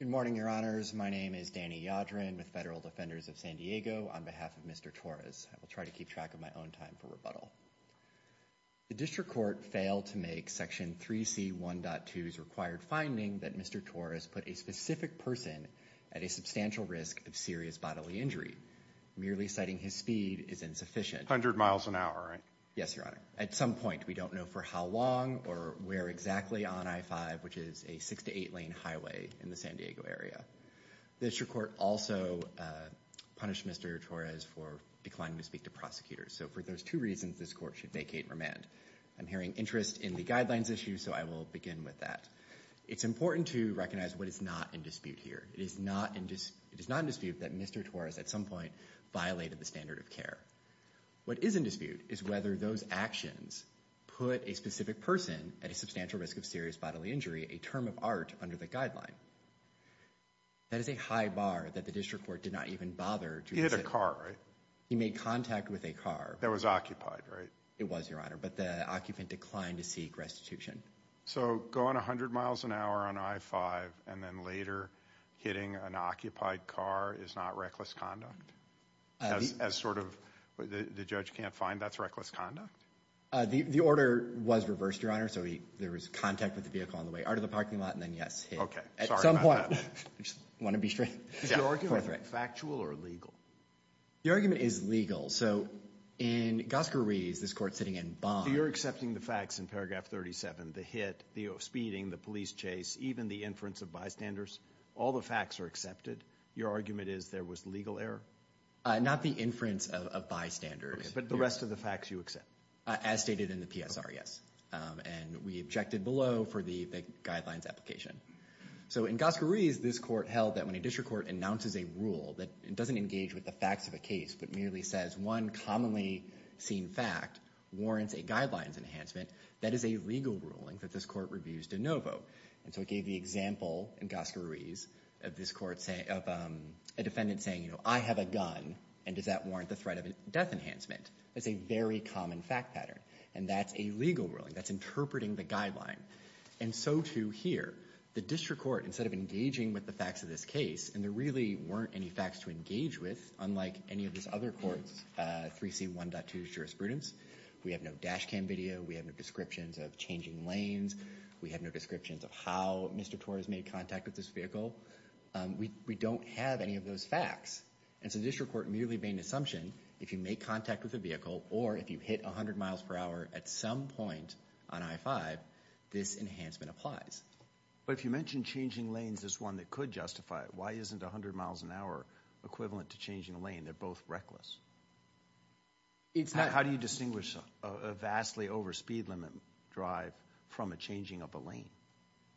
Good morning, your honors. My name is Danny Yadrin with Federal Defenders of San Diego on behalf of Mr. Torres. I will try to keep track of my own time for rebuttal. The district court failed to make Section 3C 1.2's required finding that Mr. Torres put a specific person at a substantial risk of serious bodily injury. Merely citing his speed is insufficient. A hundred miles an hour, right? Yes, your honor. At some point, we don't know for how long or where exactly on I-5, which is a six to eight lane highway in the San Diego area. The district court also punished Mr. Torres for declining to speak to prosecutors. So for those two reasons, this court should vacate and remand. I'm hearing interest in the guidelines issue, so I will begin with that. It's important to recognize what is not in dispute here. It is not in dispute that Mr. Torres, at some point, violated the standard of care. What is in dispute is whether those actions put a specific person at a substantial risk of serious bodily injury a term of art under the guideline. That is a high bar that the district court did not even bother to He hit a car, right? He made contact with a car. That was occupied, right? It was, your honor, but the occupant declined to seek restitution. So going 100 miles an hour on I-5 and then later hitting an occupied car is not reckless conduct? As sort of the judge can't find that's reckless conduct? The order was reversed, your honor, so there was contact with the vehicle on the way out of the parking lot and then, yes, hit. Okay, sorry about that. At some point, I just want to be straight. Is your argument factual or legal? The argument is legal. So in Gosker Rees, this court sitting in Bond So you're accepting the facts in paragraph 37, the hit, the speeding, the police chase, even the inference of bystanders. All the facts are accepted. Your argument is there was legal error? Not the inference of bystanders. But the rest of the facts you accept? As stated in the PSR, yes, and we objected below for the guidelines application. So in Gosker Rees, this court held that when a district court announces a rule that doesn't engage with the facts of a case but merely says one commonly seen fact warrants a guidelines enhancement, that is a legal ruling that this court reviews de novo. And so it gave the example in Gosker Rees of a defendant saying, you know, I have a gun and does that warrant the threat of a death enhancement? That's a very common fact pattern. And that's a legal ruling. That's interpreting the guideline. And so, too, here, the district court, instead of engaging with the facts of this case and there really weren't any facts to engage with, unlike any of these other courts, 3C1.2 jurisprudence, we have no dash cam video. We have no descriptions of changing lanes. We have no descriptions of how Mr. Torres made contact with this vehicle. We don't have any of those facts. And so the district court merely made an assumption, if you make contact with a vehicle or if you hit 100 miles per hour at some point on I-5, this enhancement applies. But if you mentioned changing lanes as one that could justify it, why isn't 100 miles an hour equivalent to changing a lane? They're both reckless. How do you distinguish a vastly over speed limit drive from a changing of a lane?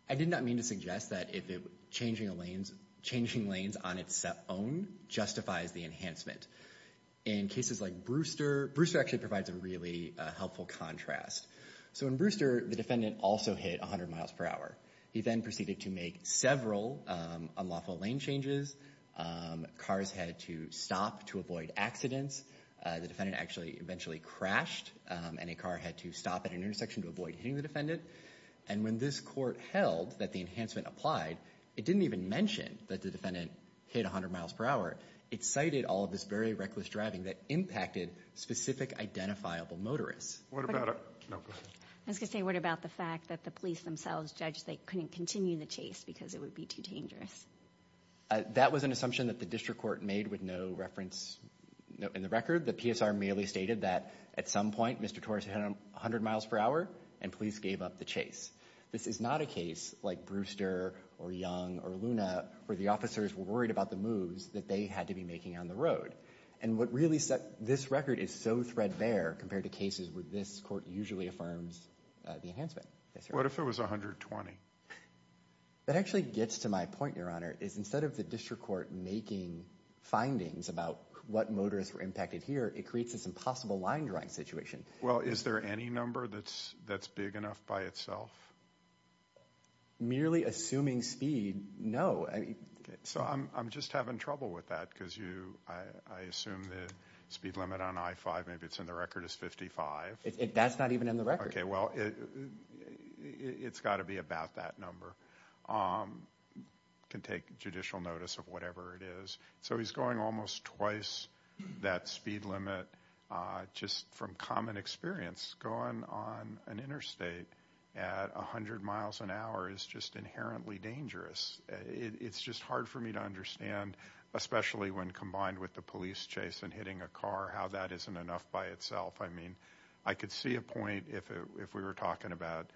I did not mean to suggest that changing lanes on its own justifies the enhancement. In cases like Brewster, Brewster actually provides a really helpful contrast. So in Brewster, the defendant also hit 100 miles per hour. He then proceeded to make several unlawful lane changes. Cars had to stop to avoid accidents. The defendant actually eventually crashed and a car had to stop at an intersection to avoid hitting the defendant. And when this court held that the enhancement applied, it didn't even mention that the defendant hit 100 miles per hour. It cited all of this very reckless driving that impacted specific identifiable motorists. What about the fact that the police themselves judged they couldn't continue the chase because it would be too dangerous? That was an assumption that the district court made with no reference in the record. The PSR merely stated that at some point, Mr. Torres hit 100 miles per hour and police gave up the chase. This is not a case like Brewster or Young or Luna where the officers were worried about the moves that they had to be making on the road. And what really set this record is so threadbare compared to cases where this court usually affirms the enhancement. What if it was 120? That actually gets to my point, Your Honor, is instead of the district court making findings about what motorists were impacted here, it creates this impossible line drawing situation. Well, is there any number that's that's big enough by itself? Merely assuming speed, no. So I'm just having trouble with that because I assume the speed limit on I-5, maybe it's in the record, is 55. That's not even in the record. Okay, well, it's got to be about that number. Can take judicial notice of whatever it is. So he's going almost twice that speed limit just from common experience. Going on an interstate at 100 miles an hour is just inherently dangerous. It's just hard for me to understand, especially when combined with the police chase and hitting a car, how that isn't enough by itself. I mean, I could see a point if we were talking about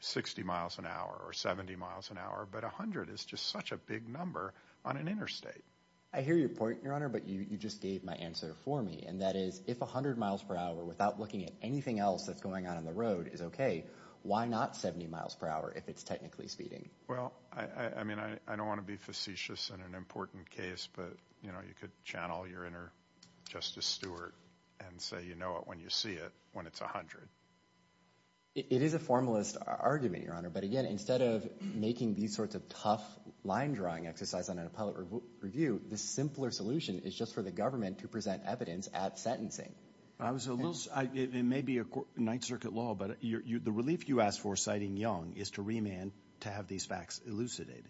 60 miles an hour or 70 miles an hour, but 100 is just such a big number on an interstate. I hear your point, Your Honor, but you just gave my answer for me. And that is, if 100 miles per hour without looking at anything else that's going on in the road is okay, why not 70 miles per hour if it's technically speeding? Well, I mean, I don't want to be facetious in an important case, but you know, you could channel your inner Justice Stewart and say, you know it when you see it, when it's 100. It is a formalist argument, Your Honor, but again, instead of making these sorts of tough line drawing exercise on an appellate review, the simpler solution is just for the government to present evidence at sentencing. I was a little, it may be a Ninth Circuit law, but the relief you asked for, citing Young, is to remand to have these facts elucidated.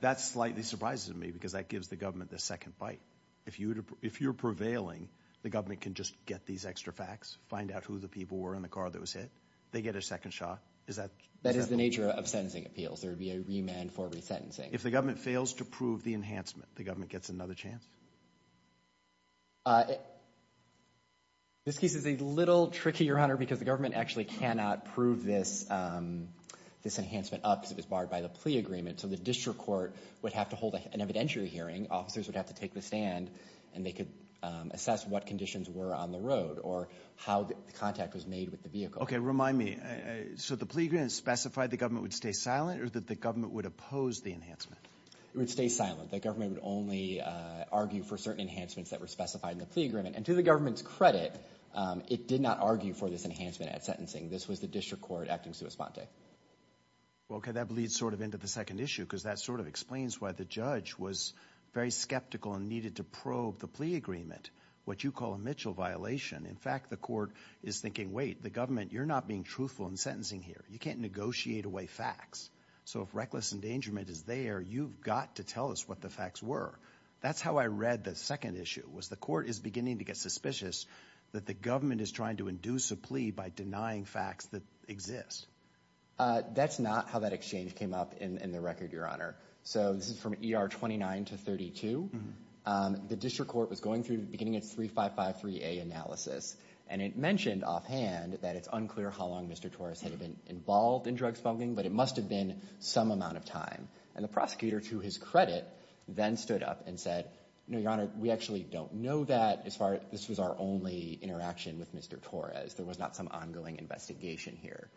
That's slightly surprising to me because that gives the government the second bite. If you're prevailing, the government can just get these extra facts, find out who the people were in the car that was hit. They get a second shot. That is the nature of sentencing appeals. There would be a remand for resentencing. If the government fails to prove the enhancement, the government gets another chance. This case is a little tricky, Your Honor, because the government actually cannot prove this this enhancement up because it was barred by the plea agreement. So the district court would have to hold an evidentiary hearing. Officers would have to take the stand and they could assess what conditions were on the road or how the contact was made with the vehicle. OK, remind me. So the plea agreement specified the government would stay silent or that the government would oppose the enhancement? It would stay silent. The government would only argue for certain enhancements that were specified in the plea agreement. And to the government's credit, it did not argue for this enhancement at sentencing. This was the district court acting sua sponte. Well, OK, that bleeds sort of into the second issue, because that sort of explains why the judge was very skeptical and needed to probe the plea agreement, what you call a Mitchell violation. In fact, the court is thinking, wait, the government, you're not being truthful in sentencing here. You can't negotiate away facts. So if reckless endangerment is there, you've got to tell us what the facts were. That's how I read the second issue was the court is beginning to get suspicious that the government is trying to induce a plea by denying facts that exist. That's not how that exchange came up in the record, Your Honor. So this is from E.R. 29 to 32. The district court was going through the beginning of 3553A analysis, and it mentioned offhand that it's unclear how long Mr. Torres had been involved in drug spunking, but it must have been some amount of time. And the prosecutor, to his credit, then stood up and said, no, Your Honor, we actually don't know that as far as this was our only interaction with Mr. Torres. There was not some ongoing investigation here.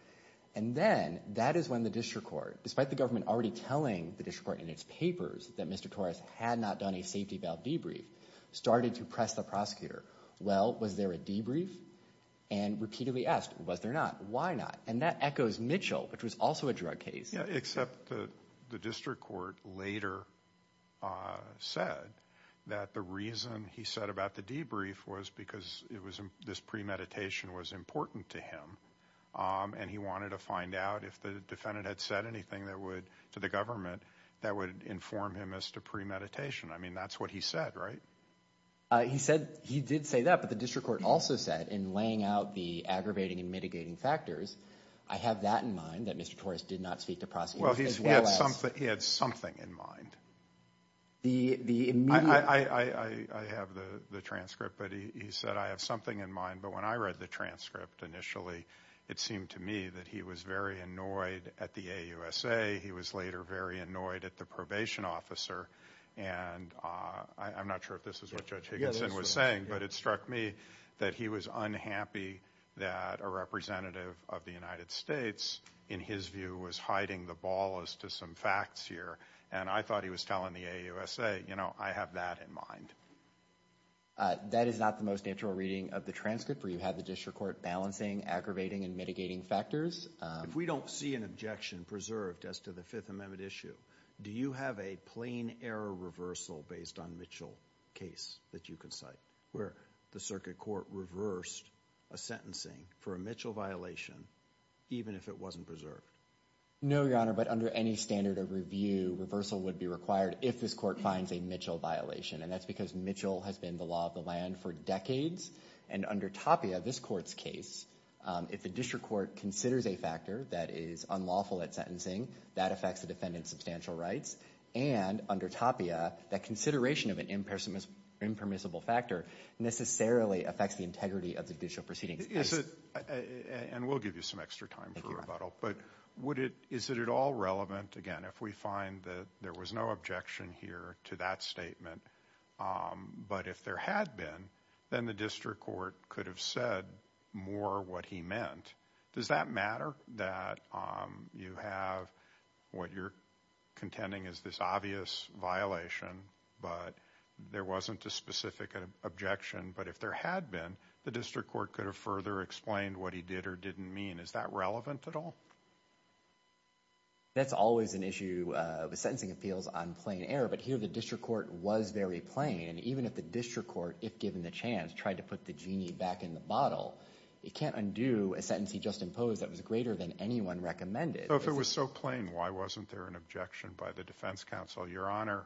And then that is when the district court, despite the government already telling the district court in its papers that Mr. Torres had not done a safety valve debrief, started to press the prosecutor. Well, was there a debrief? And repeatedly asked, was there not? Why not? And that echoes Mitchell, which was also a drug case. Except the district court later said that the reason he said about the debrief was because it was this premeditation was important to him. And he wanted to find out if the defendant had said anything that would to the government that would inform him as to premeditation. I mean, that's what he said, right? He said he did say that, but the district court also said in laying out the aggravating and mitigating factors. I have that in mind that Mr. Torres did not speak to prosecutors. Well, he had something he had something in mind. The I have the transcript, but he said, I have something in mind. But when I read the transcript initially, it seemed to me that he was very annoyed at the AUSA. He was later very annoyed at the probation officer. And I'm not sure if this is what Judge Higginson was saying, but it struck me that he was unhappy that a representative of the United States, in his view, was hiding the ball as to some facts here. And I thought he was telling the AUSA, you know, I have that in mind. That is not the most natural reading of the transcript where you have the district court balancing, aggravating and mitigating factors. If we don't see an objection preserved as to the Fifth Amendment issue, do you have a plain error reversal based on Mitchell case that you can cite? Where the circuit court reversed a sentencing for a Mitchell violation, even if it wasn't preserved? No, Your Honor, but under any standard of review, reversal would be required if this court finds a Mitchell violation. And that's because Mitchell has been the law of the land for decades. And under Tapia, this court's case, if the district court considers a factor that is unlawful at sentencing, that affects the defendant's substantial rights. And under Tapia, that consideration of an impermissible factor necessarily affects the integrity of the judicial proceedings. And we'll give you some extra time for rebuttal. But is it at all relevant, again, if we find that there was no objection here to that statement, but if there had been, then the district court could have said more what he meant. Does that matter that you have what you're contending is this obvious violation, but there wasn't a specific objection? But if there had been, the district court could have further explained what he did or didn't mean. Is that relevant at all? That's always an issue with sentencing appeals on plain error. But here, the district court was very plain. And even if the district court, if given the chance, tried to put the genie back in the bottle, it can't undo a sentence he just imposed that was greater than anyone recommended. So if it was so plain, why wasn't there an objection by the defense counsel? Your Honor,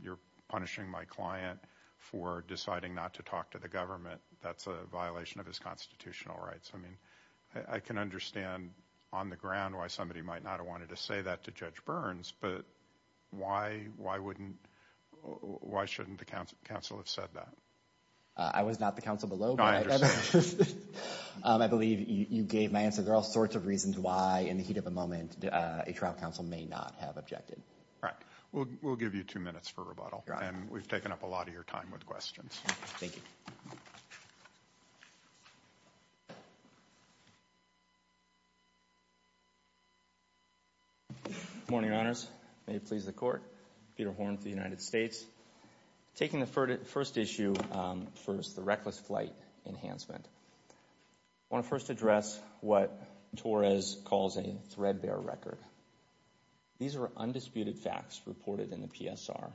you're punishing my client for deciding not to talk to the government. That's a violation of his constitutional rights. I mean, I can understand on the ground why somebody might not have wanted to say that to Judge Burns. But why shouldn't the counsel have said that? I was not the counsel below. No, I understand. I believe you gave my answer. There are all sorts of reasons why, in the heat of the moment, a trial counsel may not have objected. Right. We'll give you two minutes for rebuttal, and we've taken up a lot of your time with questions. Thank you. Good morning, Your Honors. May it please the Court. Peter Horn for the United States. Taking the first issue first, the reckless flight enhancement, I want to first address what Torres calls a threadbare record. These are undisputed facts reported in the PSR.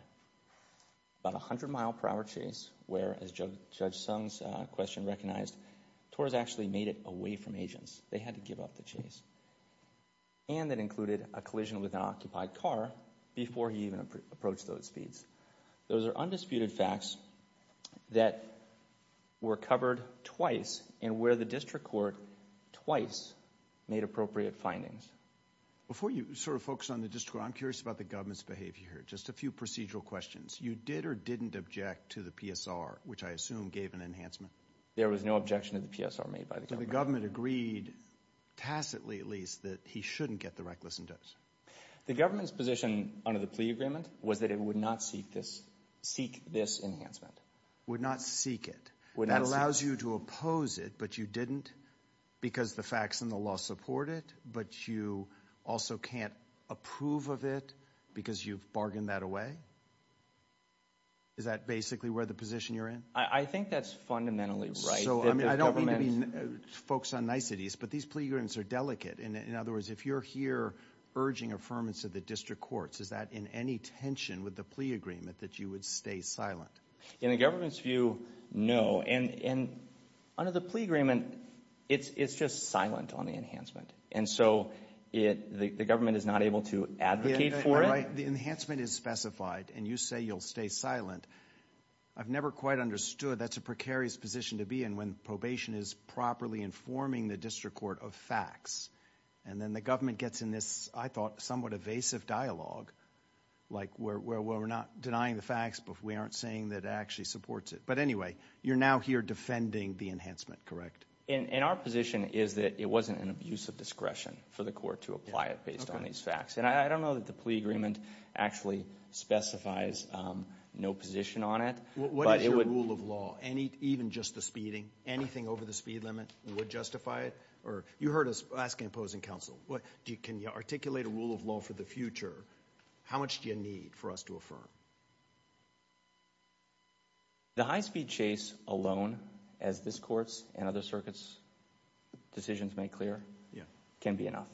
About a hundred mile per hour chase where, as Judge Sung's question recognized, Torres actually made it away from agents. They had to give up the chase. And that included a collision with an occupied car before he even approached those speeds. Those are undisputed facts that were covered twice and where the district court twice made appropriate findings. Before you sort of focus on the district court, I'm curious about the government's behavior here. Just a few procedural questions. You did or didn't object to the PSR, which I assume gave an enhancement. There was no objection to the PSR made by the government. The government agreed, tacitly at least, that he shouldn't get the reckless endorsement. The government's position under the plea agreement was that it would not seek this enhancement. Would not seek it. That allows you to oppose it, but you didn't because the facts and the law support it. But you also can't approve of it because you've bargained that away? Is that basically where the position you're in? I think that's fundamentally right. So I don't mean to be folks on niceties, but these plea agreements are delicate. In other words, if you're here urging affirmance of the district courts, is that in any tension with the plea agreement that you would stay silent? In the government's view, no. And under the plea agreement, it's just silent on the enhancement. And so the government is not able to advocate for it? I'm right. The enhancement is specified, and you say you'll stay silent. I've never quite understood. That's a precarious position to be in when probation is properly informing the district court of facts. And then the government gets in this, I thought, somewhat evasive dialogue, like where we're not denying the facts, but we aren't saying that it actually supports it. But anyway, you're now here defending the enhancement, correct? And our position is that it wasn't an abuse of discretion for the court to apply it based on these facts. And I don't know that the plea agreement actually specifies no position on it. What is your rule of law? Even just the speeding, anything over the speed limit would justify it? Or you heard us asking opposing counsel, can you articulate a rule of law for the future? How much do you need for us to affirm? The high-speed chase alone, as this court's and other circuits' decisions make clear, can be enough.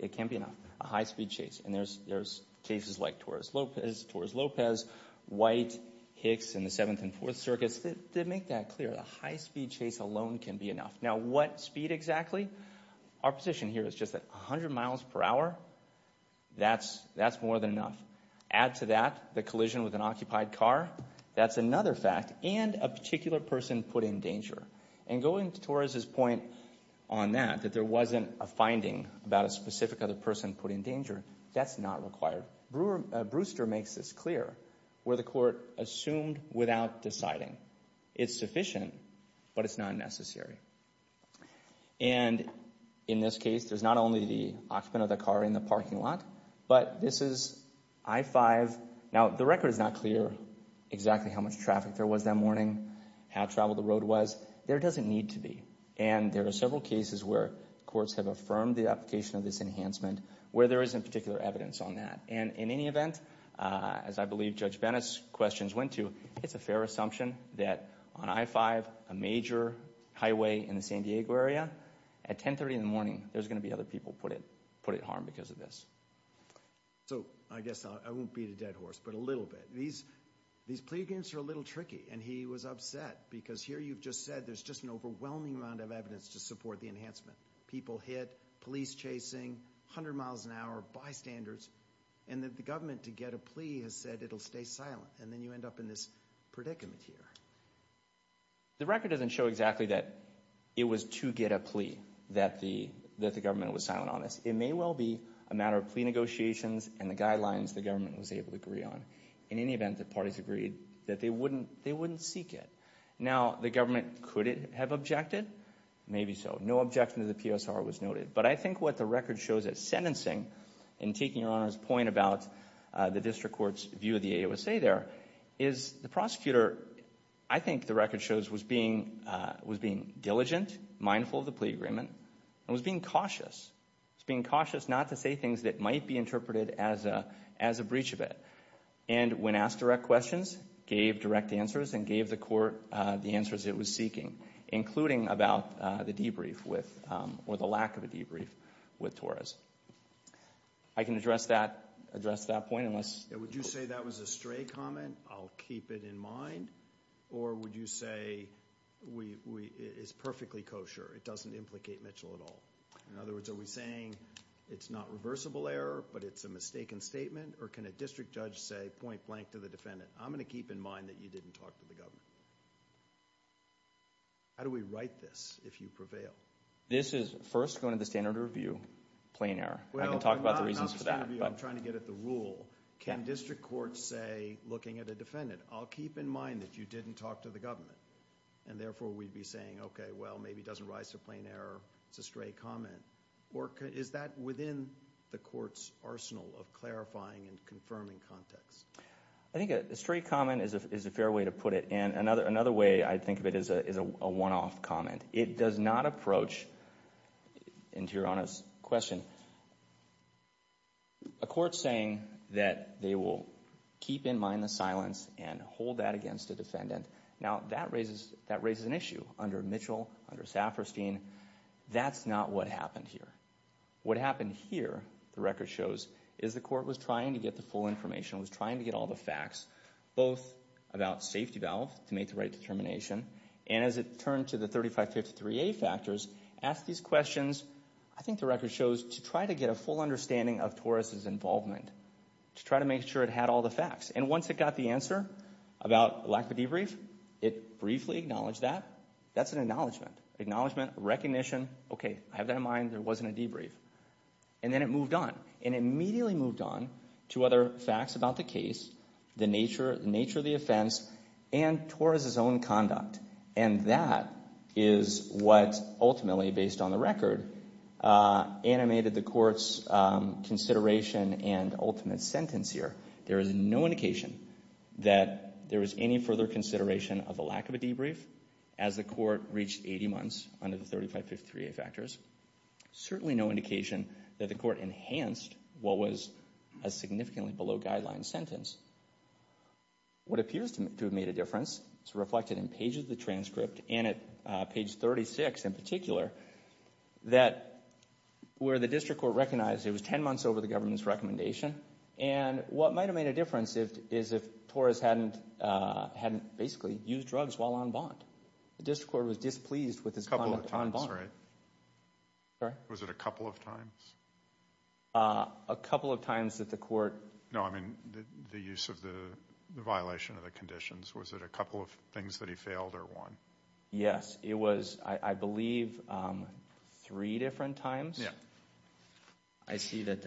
It can be enough, a high-speed chase. And there's cases like Torres-Lopez, White, Hicks, and the Seventh and Fourth Circuits that make that clear. A high-speed chase alone can be enough. Now, what speed exactly? Our position here is just that 100 miles per hour, that's more than enough. Add to that the collision with an occupied car, that's another fact, and a particular person put in danger. And going to Torres' point on that, that there wasn't a finding about a specific other person put in danger, that's not required. Brewster makes this clear, where the court assumed without deciding. It's sufficient, but it's not necessary. And in this case, there's not only the occupant of the car in the parking lot, but this is I-5. Now, the record is not clear exactly how much traffic there was that morning, how traveled the road was. There doesn't need to be. And there are several cases where courts have affirmed the application of this enhancement, where there isn't particular evidence on that. And in any event, as I believe Judge Bennett's questions went to, it's a fair assumption that on I-5, a major highway in the San Diego area, at 1030 in the morning, there's going to be other people put at harm because of this. So, I guess I won't beat a dead horse, but a little bit. These plea agreements are a little tricky, and he was upset because here you've just said there's just an overwhelming amount of evidence to support the enhancement. People hit, police chasing, 100 miles an hour, bystanders, and that the government, to get a plea, has said it'll stay silent. And then you end up in this predicament here. The record doesn't show exactly that it was to get a plea that the government was silent on this. It may well be a matter of plea negotiations and the guidelines the government was able to agree on. In any event, the parties agreed that they wouldn't seek it. Now, the government, could it have objected? Maybe so. No objection to the PSR was noted. But I think what the record shows at sentencing, and taking Your Honor's point about the district court's view of the AOSA there, is the prosecutor, I think the record shows, was being diligent, mindful of the plea agreement, and was being cautious. Was being cautious not to say things that might be interpreted as a breach of it. And when asked direct questions, gave direct answers, and gave the court the answers it was seeking, including about the debrief with, or the lack of a debrief with Torres. I can address that point unless... Would you say that was a stray comment, I'll keep it in mind? Or would you say it's perfectly kosher, it doesn't implicate Mitchell at all? In other words, are we saying it's not reversible error, but it's a mistaken statement? Or can a district judge say point blank to the defendant, I'm going to keep in mind that you didn't talk to the government. How do we write this, if you prevail? This is first going to the standard review, plain error. I can talk about the reasons for that. I'm trying to get at the rule. Can district courts say, looking at a defendant, I'll keep in mind that you didn't talk to the government. And therefore we'd be saying, okay, well, maybe it doesn't rise to plain error, it's a stray comment. Or is that within the court's arsenal of clarifying and confirming context? I think a stray comment is a fair way to put it. And another way I think of it is a one-off comment. It does not approach, in Tiarana's question, a court saying that they will keep in mind the silence and hold that against a defendant. Now, that raises an issue under Mitchell, under Safferstein. That's not what happened here. What happened here, the record shows, is the court was trying to get the full information, was trying to get all the facts, both about safety valve, to make the right determination, and as it turned to the 3553A factors, asked these questions, I think the record shows, to try to get a full understanding of Torres' involvement, to try to make sure it had all the facts. And once it got the answer about lack of debrief, it briefly acknowledged that. That's an acknowledgement. Acknowledgement, recognition, okay, I have that in mind, there wasn't a debrief. And then it moved on. And it immediately moved on to other facts about the case, the nature of the offense, and Torres' own conduct. And that is what ultimately, based on the record, animated the court's consideration and ultimate sentence here. There is no indication that there was any further consideration of the lack of a debrief as the court reached 80 months under the 3553A factors. Certainly no indication that the court enhanced what was a significantly below guideline sentence. What appears to have made a difference is reflected in pages of the transcript, and at page 36 in particular, that where the district court recognized it was 10 months over the government's recommendation, and what might have made a difference is if Torres hadn't basically used drugs while on bond. The district court was displeased with his conduct on bond. Sorry? Was it a couple of times? A couple of times that the court. No, I mean the use of the violation of the conditions. Was it a couple of things that he failed or won? Yes, it was, I believe, three different times. Yeah. I see that.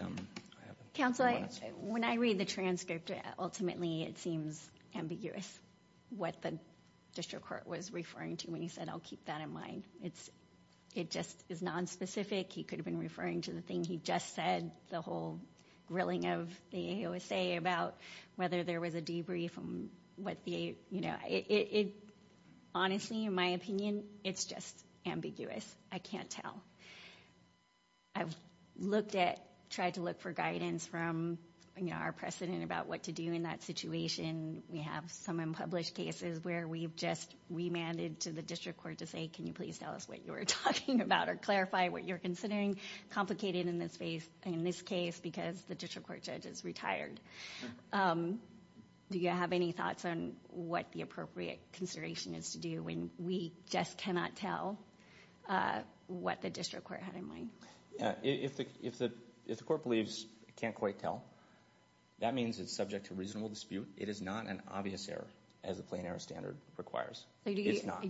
Counsel, when I read the transcript, ultimately it seems ambiguous, what the district court was referring to when he said, I'll keep that in mind. It just is nonspecific. He could have been referring to the thing he just said, the whole grilling of the AOSA about whether there was a debrief. Honestly, in my opinion, it's just ambiguous. I can't tell. I've tried to look for guidance from our precedent about what to do in that situation. We have some unpublished cases where we've just remanded to the district court to say, can you please tell us what you were talking about or clarify what you're considering? Complicated in this case because the district court judge is retired. Do you have any thoughts on what the appropriate consideration is to do when we just cannot tell what the district court had in mind? If the court believes it can't quite tell, that means it's subject to reasonable dispute. It is not an obvious error, as the plain error standard requires. It's not.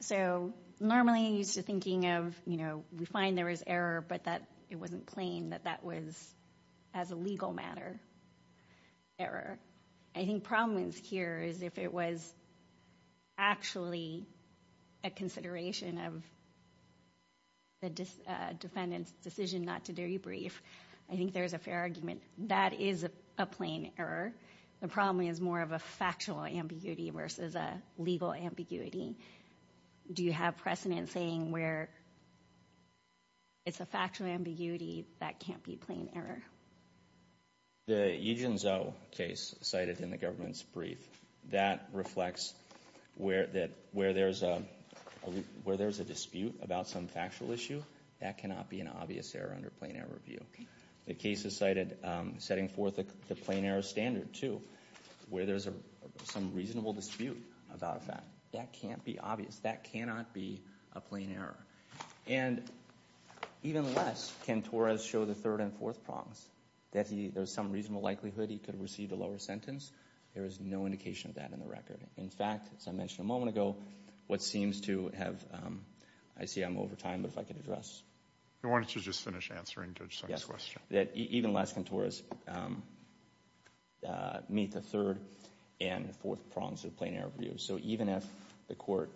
So normally you're used to thinking of, we find there was error, but that it wasn't plain, that that was, as a legal matter, error. I think the problem here is if it was actually a consideration of the defendant's decision not to debrief, I think there's a fair argument. That is a plain error. The problem is more of a factual ambiguity versus a legal ambiguity. Do you have precedent saying where it's a factual ambiguity that can't be plain error? The Yijin Zhou case cited in the government's brief, that reflects that where there's a dispute about some factual issue, that cannot be an obvious error under plain error review. The case is cited setting forth the plain error standard, too, where there's some reasonable dispute about a fact. That can't be obvious. That cannot be a plain error. And even less, can Torres show the third and fourth prongs, that there's some reasonable likelihood he could have received a lower sentence? There is no indication of that in the record. In fact, as I mentioned a moment ago, what seems to have, I see I'm over time, but if I could address. Why don't you just finish answering Judge Summers' question. Even less can Torres meet the third and fourth prongs of plain error review. So even if the court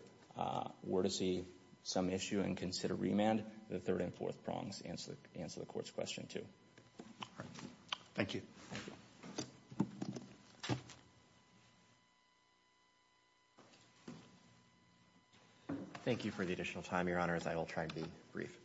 were to see some issue and consider remand, the third and fourth prongs answer the court's question, too. Thank you. Thank you for the additional time, Your Honors. I will try to be brief.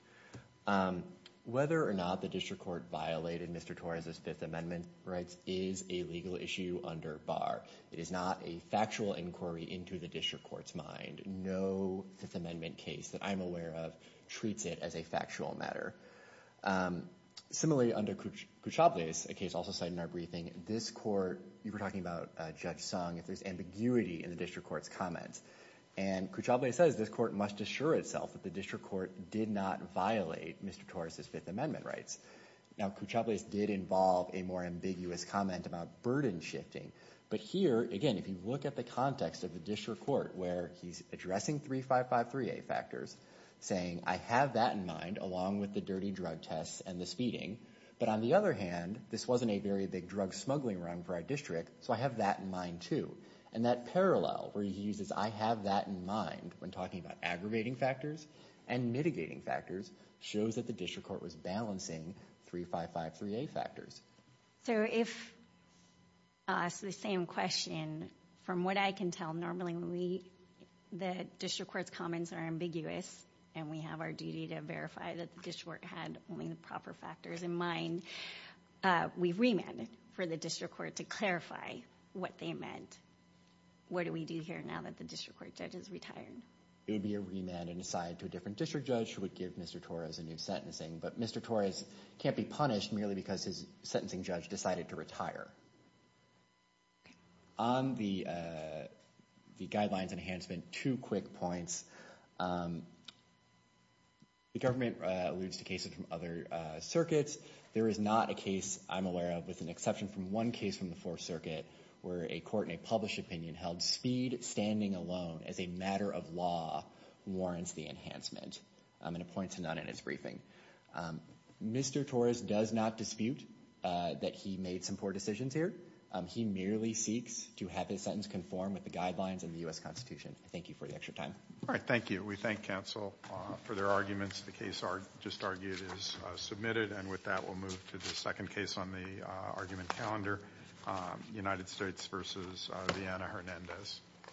Whether or not the district court violated Mr. Torres' Fifth Amendment rights is a legal issue under bar. It is not a factual inquiry into the district court's mind. No Fifth Amendment case that I'm aware of treats it as a factual matter. Similarly, under Cuchables, a case also cited in our briefing, this court, you were talking about Judge Sung, if there's ambiguity in the district court's comments. And Cuchables says this court must assure itself that the district court did not violate Mr. Torres' Fifth Amendment rights. Now, Cuchables did involve a more ambiguous comment about burden shifting. But here, again, if you look at the context of the district court where he's addressing 3553A factors, saying I have that in mind along with the dirty drug tests and the speeding. But on the other hand, this wasn't a very big drug smuggling run for our district, so I have that in mind, too. And that parallel where he uses I have that in mind when talking about aggravating factors and mitigating factors shows that the district court was balancing 3553A factors. So if it's the same question, from what I can tell, normally the district court's comments are ambiguous and we have our duty to verify that the district court had only the proper factors in mind. We've remanded for the district court to clarify what they meant. What do we do here now that the district court judge is retired? It would be a remand and assign to a different district judge who would give Mr. Torres a new sentencing. But Mr. Torres can't be punished merely because his sentencing judge decided to retire. On the guidelines enhancement, two quick points. The government alludes to cases from other circuits. There is not a case I'm aware of with an exception from one case from the Fourth Circuit where a court in a published opinion held speed standing alone as a matter of law warrants the enhancement. I'm going to point to none in his briefing. Mr. Torres does not dispute that he made some poor decisions here. He merely seeks to have his sentence conform with the guidelines in the U.S. Constitution. Thank you for the extra time. All right. Thank you. We thank counsel for their arguments. The case just argued is submitted. And with that, we'll move to the second case on the argument calendar, United States v. Vienna-Hernandez.